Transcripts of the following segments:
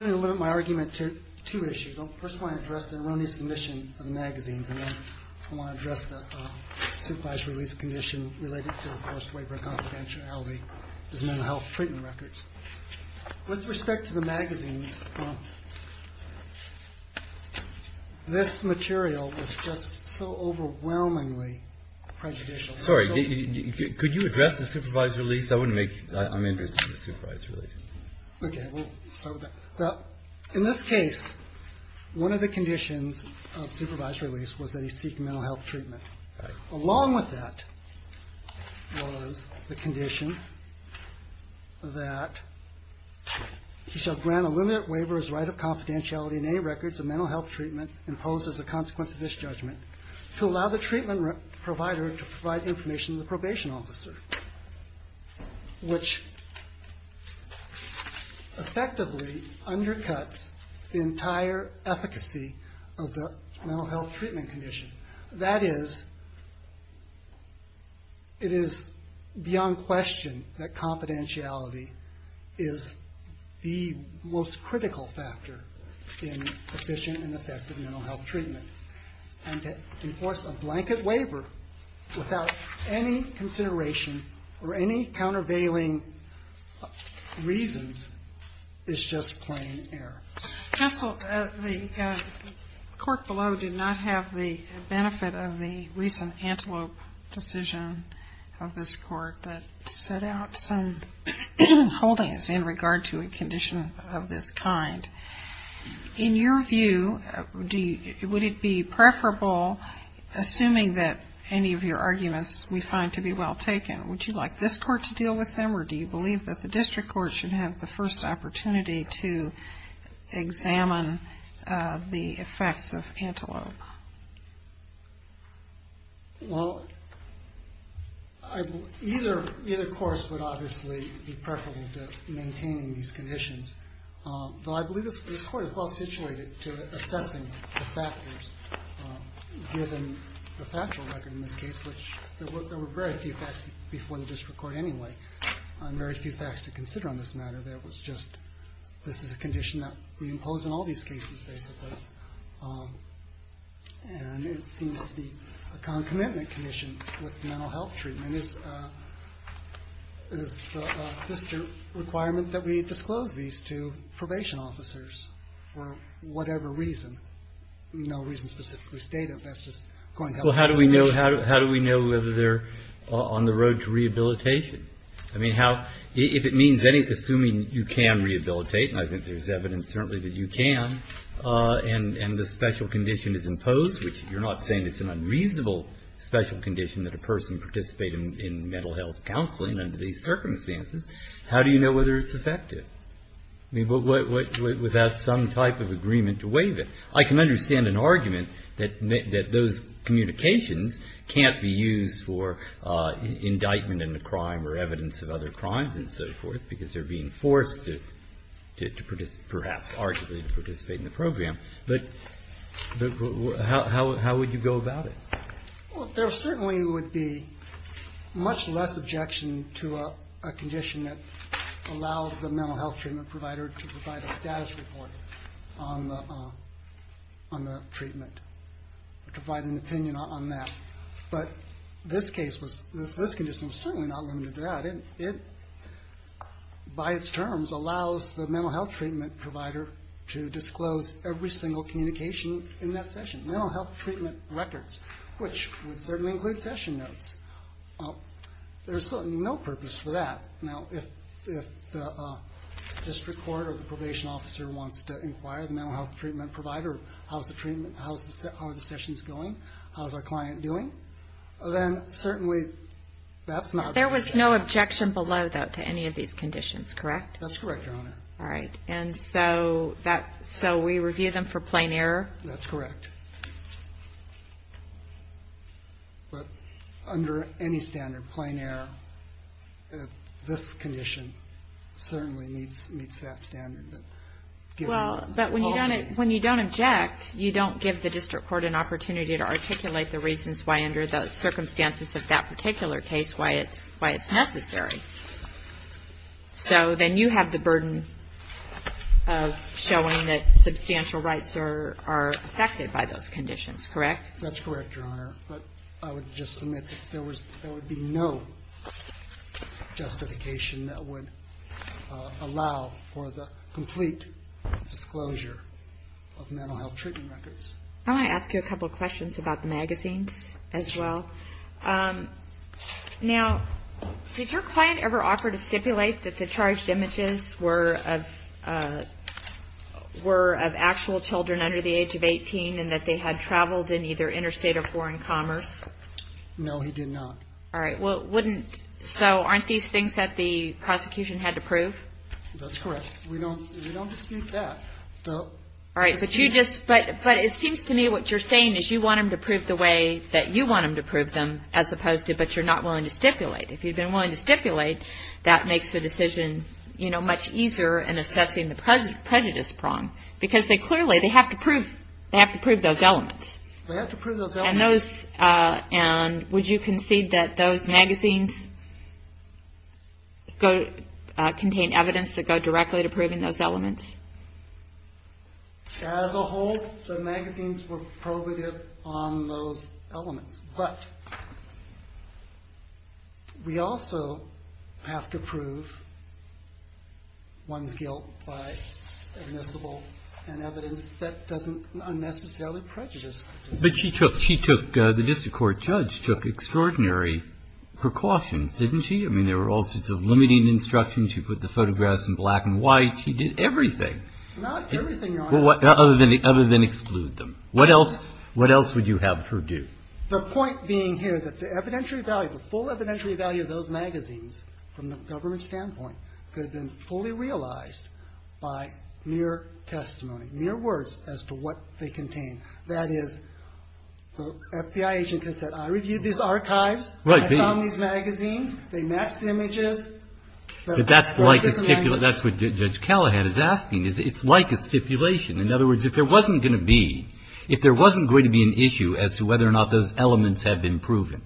I'm going to limit my argument to two issues. I first want to address the erroneous submission of the magazines and then I want to address the supervised release condition related to the forced waiver of confidentiality as mental health treatment records. With respect to the magazines, this material is just so overwhelmingly prejudicial. Sorry, could you address the supervised release? I'm interested in the supervised release. In this case, one of the conditions of supervised release was that he seek mental health treatment. Along with that was the condition that he shall grant a limited waiver as right of confidentiality in any records of mental health treatment imposed as a consequence of this judgment to allow the treatment provider to provide information to the probation officer. Which effectively undercuts the entire efficacy of the mental health treatment condition. That is, it is beyond question that confidentiality is the most critical factor in efficient and effective mental health treatment. And to enforce a blanket waiver without any consideration or any countervailing reasons is just plain error. Counsel, the court below did not have the benefit of the recent antelope decision of this court that set out some holdings in regard to a condition of this kind. In your view, would it be preferable, assuming that any of your arguments we find to be well taken, would you like this court to deal with them or do you believe that the district court should have the first opportunity to examine the effects of antelope? Well, either course would obviously be preferable to maintaining these conditions. Though I believe this court is well situated to assessing the factors given the factual record in this case, which there were very few facts before the district court anyway. There are very few facts to consider on this matter. This is a condition that we impose on all these cases basically. And it seems to be a concomitant condition with mental health treatment. It is the sister requirement that we disclose these to probation officers for whatever reason. No reason specifically stated. Well, how do we know whether they're on the road to rehabilitation? I mean, if it means assuming you can rehabilitate, and I think there's evidence certainly that you can, and the special condition is imposed, which you're not saying it's an unreasonable special condition that a person participate in mental health counseling under these circumstances, how do you know whether it's effective? I mean, without some type of agreement to waive it. I can understand an argument that those communications can't be used for indictment in a crime or evidence of other crimes and so forth because they're being forced to perhaps arguably participate in the program. But how would you go about it? Well, there certainly would be much less objection to a condition that allows the mental health treatment provider to provide a status report on the treatment or provide an opinion on that. But this condition was certainly not limited to that. It, by its terms, allows the mental health treatment provider to disclose every single communication in that session, mental health treatment records, which would certainly include session notes. There's certainly no purpose for that. Now, if the district court or the probation officer wants to inquire the mental health treatment provider, how's the treatment, how are the sessions going, how's our client doing, then certainly that's not. There was no objection below, though, to any of these conditions, correct? That's correct, Your Honor. All right. And so we review them for plain error? That's correct. But under any standard, plain error, this condition certainly meets that standard. Well, but when you don't object, you don't give the district court an opportunity to articulate the reasons why, under the circumstances of that particular case, why it's necessary. So then you have the burden of showing that substantial rights are affected by those conditions, correct? That's correct, Your Honor. But I would just submit there would be no justification that would allow for the complete disclosure of mental health treatment records. I want to ask you a couple of questions about the magazines as well. Now, did your client ever offer to stipulate that the charged images were of actual children under the age of 18 and that they had traveled in either interstate or foreign commerce? No, he did not. All right. So aren't these things that the prosecution had to prove? That's correct. We don't dispute that. But it seems to me what you're saying is you want them to prove the way that you want them to prove them as opposed to but you're not willing to stipulate. If you've been willing to stipulate, that makes the decision, you know, much easier in assessing the prejudice prong because they clearly, they have to prove those elements. They have to prove those elements. And would you concede that those magazines contain evidence that go directly to proving those elements? As a whole, the magazines were probative on those elements. But we also have to prove one's guilt by admissible and evidence that doesn't unnecessarily prejudice. But she took, the district court judge, took extraordinary precautions, didn't she? I mean, there were all sorts of limiting instructions. She put the photographs in black and white. She did everything. Not everything, Your Honor. Other than exclude them. What else would you have her do? The point being here that the evidentiary value, the full evidentiary value of those magazines from the government standpoint could have been fully realized by mere testimony, mere words as to what they contain. That is, the FBI agent can say, I reviewed these archives. Right. I found these magazines. They match the images. But that's like a stipulation. That's what Judge Callahan is asking. It's like a stipulation. In other words, if there wasn't going to be, if there wasn't going to be an issue as to whether or not those elements have been proven,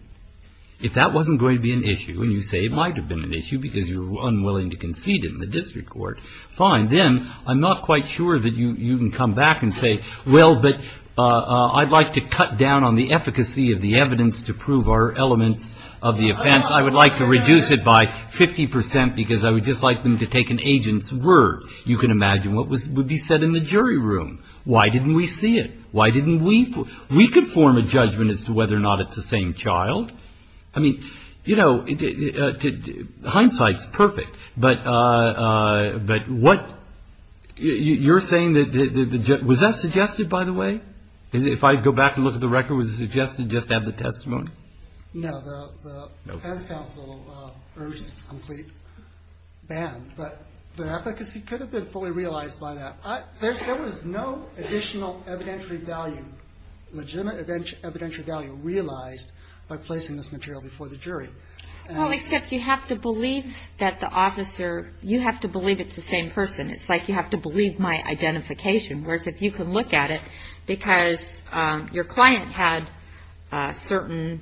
if that wasn't going to be an issue and you say it might have been an issue because you were unwilling to concede in the district court, fine, then I'm not quite sure that you can come back and say, well, but I'd like to cut down on the efficacy of the evidence to prove our elements of the offense. I would like to reduce it by 50 percent because I would just like them to take an agent's word. You can imagine what would be said in the jury room. Why didn't we see it? Why didn't we? We could form a judgment as to whether or not it's the same child. I mean, you know, hindsight's perfect. But what you're saying, was that suggested, by the way? If I go back and look at the record, was it suggested just to have the testimony? No. The defense counsel urged a complete ban, but the efficacy could have been fully realized by that. There was no additional evidentiary value, legitimate evidentiary value realized by placing this material before the jury. Well, except you have to believe that the officer, you have to believe it's the same person. It's like you have to believe my identification, whereas if you could look at it, because your client had certain,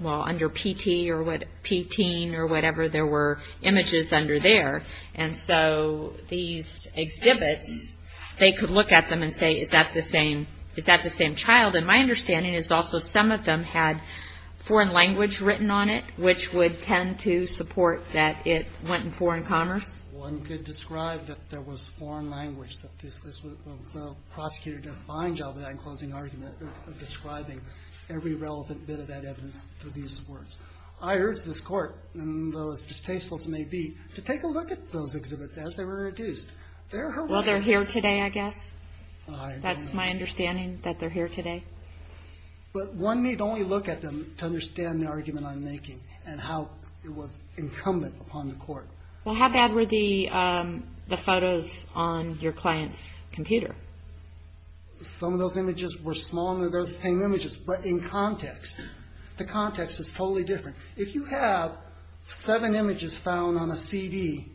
well, under PT or whatever, there were images under there. And so these exhibits, they could look at them and say, is that the same child? And my understanding is also some of them had foreign language written on it, which would tend to support that it went in foreign commerce. One could describe that there was foreign language, that the prosecutor defined all that in closing argument, describing every relevant bit of that evidence through these words. I urge this Court, and though as distasteful as it may be, to take a look at those exhibits as they were reduced. Well, they're here today, I guess. That's my understanding, that they're here today. But one need only look at them to understand the argument I'm making and how it was incumbent upon the Court. Well, how bad were the photos on your client's computer? Some of those images were smaller than those same images, but in context. The context is totally different. If you have seven images found on a CD,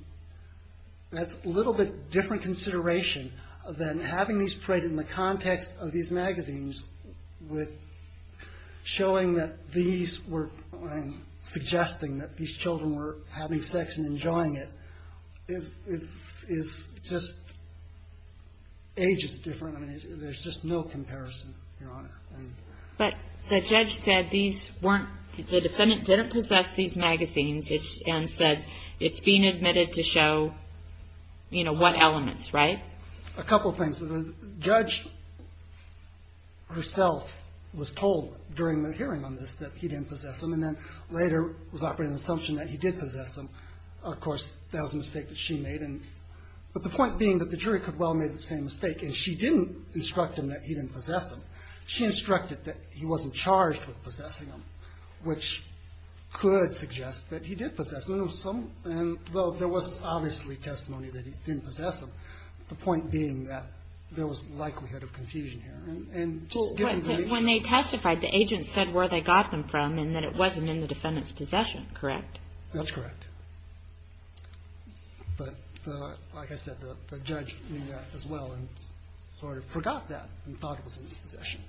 that's a little bit different consideration than having these printed in the context of these magazines with showing that these were suggesting that these children were having sex and enjoying it. It's just ages different. There's just no comparison, Your Honor. But the judge said these weren't, the defendant didn't possess these magazines and said it's being admitted to show, you know, what elements, right? A couple things. The judge herself was told during the hearing on this that he didn't possess them, and then later was offered an assumption that he did possess them. Of course, that was a mistake that she made. But the point being that the jury could well have made the same mistake, and she didn't instruct him that he didn't possess them. She instructed that he wasn't charged with possessing them, which could suggest that he did possess them. Well, there was obviously testimony that he didn't possess them, the point being that there was likelihood of confusion here. When they testified, the agent said where they got them from and that it wasn't in the defendant's possession, correct? That's correct. But like I said, the judge knew that as well and sort of forgot that and thought it was in his possession.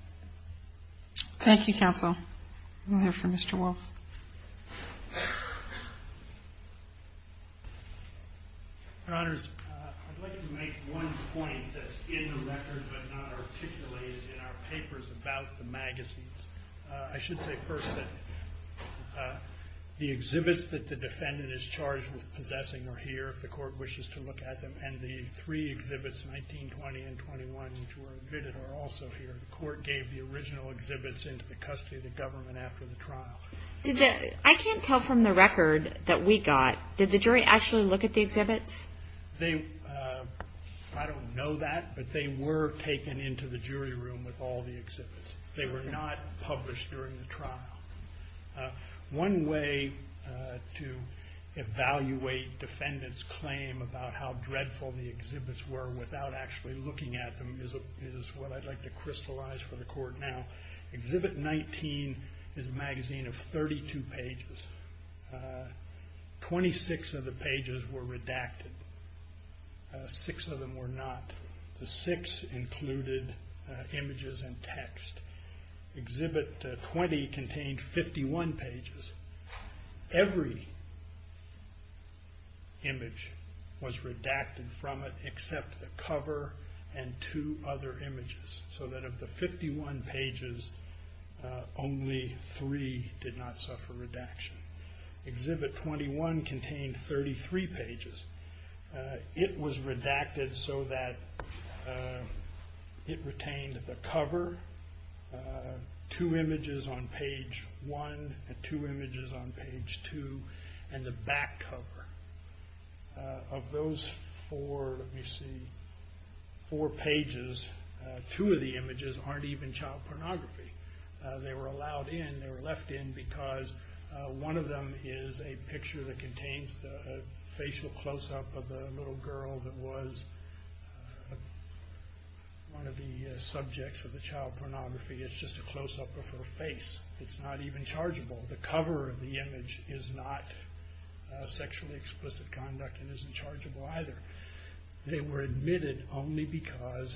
Thank you, counsel. We'll hear from Mr. Wolf. Your Honors, I'd like to make one point that's in the record but not articulated in our papers about the magazines. I should say first that the exhibits that the defendant is charged with possessing are here if the court wishes to look at them, and the three exhibits, 1920 and 21, which were admitted, are also here. The court gave the original exhibits into the custody of the government after the trial. I can't tell from the record that we got, did the jury actually look at the exhibits? I don't know that, but they were taken into the jury room with all the exhibits. They were not published during the trial. One way to evaluate defendant's claim about how dreadful the exhibits were without actually looking at them is what I'd like to crystallize for the court now. Exhibit 19 is a magazine of 32 pages. 26 of the pages were redacted. Six of them were not. The six included images and text. Exhibit 20 contained 51 pages. Every image was redacted from it except the cover and two other images so that of the 51 pages, only three did not suffer redaction. Exhibit 21 contained 33 pages. It was redacted so that it retained the cover, two images on page one and two images on page two, and the back cover. Of those four pages, two of the images aren't even child pornography. They were allowed in. They were left in because one of them is a picture that contains the facial close-up of the little girl that was one of the subjects of the child pornography. It's just a close-up of her face. It's not even chargeable. The cover of the image is not sexually explicit conduct and isn't chargeable either. They were admitted only because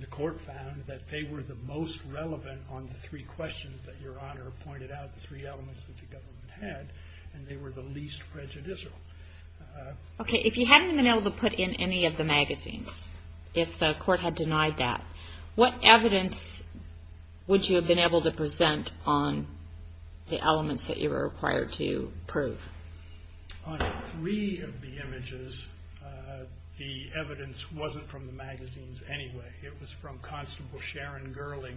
the court found that they were the most relevant on the three questions that Your Honor pointed out, the three elements that the government had, and they were the least prejudicial. Okay. If you hadn't been able to put in any of the magazines, if the court had denied that, what evidence would you have been able to present on the elements that you were required to prove? On three of the images, the evidence wasn't from the magazines anyway. It was from Constable Sharon Gerling,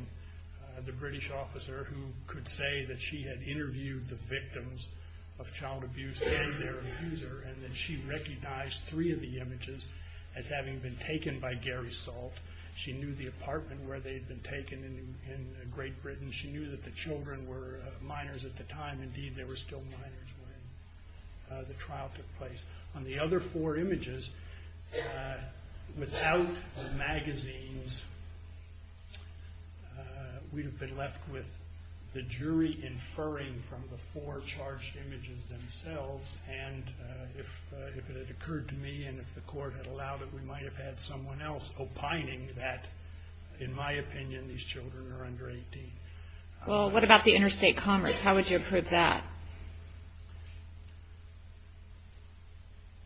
the British officer, who could say that she had interviewed the victims of child abuse and their abuser, and that she recognized three of the images as having been taken by Gary Salt. She knew the apartment where they had been taken in Great Britain. She knew that the children were minors at the time. Indeed, they were still minors when the trial took place. On the other four images, without the magazines, we would have been left with the jury inferring from the four charged images themselves, and if it had occurred to me and if the court had allowed it, we might have had someone else opining that, in my opinion, these children are under 18. What about the interstate commerce? How would you prove that?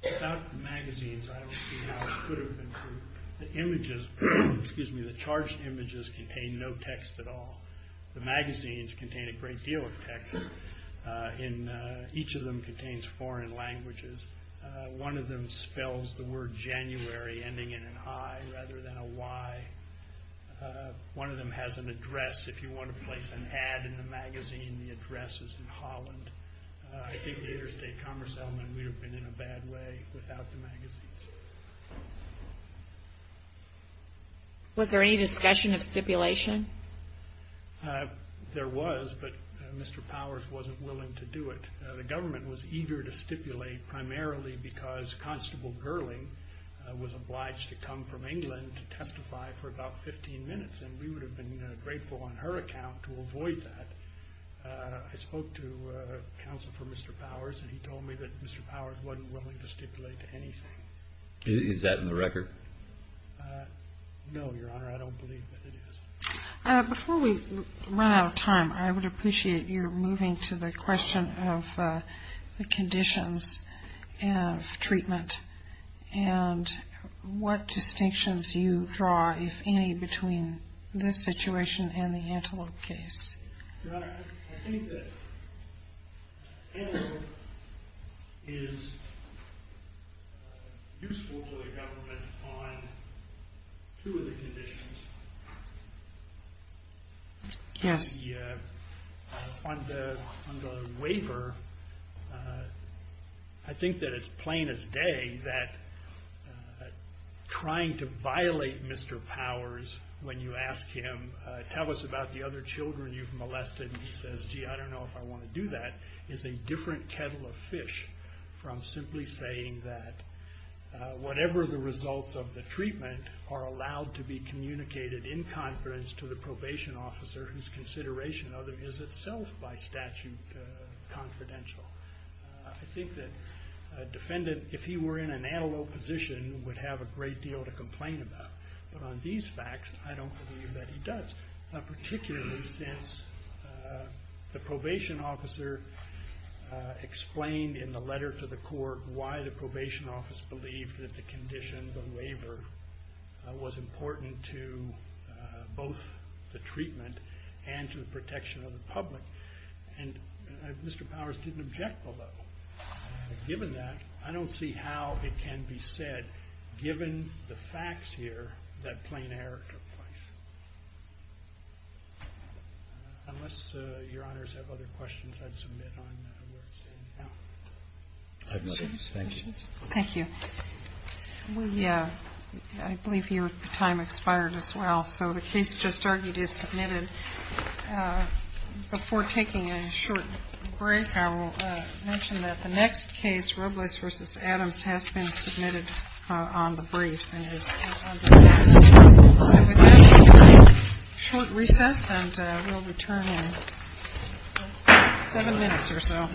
Without the magazines, I don't see how it could have been proved. The charged images contain no text at all. The magazines contain a great deal of text. Each of them contains foreign languages. One of them spells the word January ending in an I rather than a Y. One of them has an address. If you want to place an ad in the magazine, the address is in Holland. I think the interstate commerce element would have been in a bad way without the magazines. Was there any discussion of stipulation? There was, but Mr. Powers wasn't willing to do it. The government was eager to stipulate primarily because Constable Gerling was obliged to come from England to testify for about 15 minutes, and we would have been grateful on her account to avoid that. I spoke to counsel for Mr. Powers, and he told me that Mr. Powers wasn't willing to stipulate anything. Is that in the record? No, Your Honor, I don't believe that it is. Before we run out of time, I would appreciate your moving to the question of the conditions of treatment and what distinctions you draw, if any, between this situation and the Antelope case. Your Honor, I think that Antelope is useful to the government on two of the conditions. Yes. On the waiver, I think that it's plain as day that trying to violate Mr. Powers when you ask him, tell us about the other children you've molested, and he says, gee, I don't know if I want to do that, is a different kettle of fish from simply saying that whatever the results of the treatment are allowed to be communicated in confidence to the probation officer whose consideration of it is itself by statute confidential. I think that a defendant, if he were in an Antelope position, would have a great deal to complain about. But on these facts, I don't believe that he does, particularly since the probation officer explained in the letter to the court why the probation office believed that the condition, the waiver, was important to both the treatment and to the protection of the public. And Mr. Powers didn't object below. Given that, I don't see how it can be said, given the facts here, that plain error took place. Unless Your Honors have other questions, I'd submit on where it's standing now. Thank you. Thank you. I believe your time expired as well, so the case just argued is submitted. Before taking a short break, I will mention that the next case, Robles v. Adams, has been submitted on the briefs. And with that, we'll take a short recess and we'll return in seven minutes or so.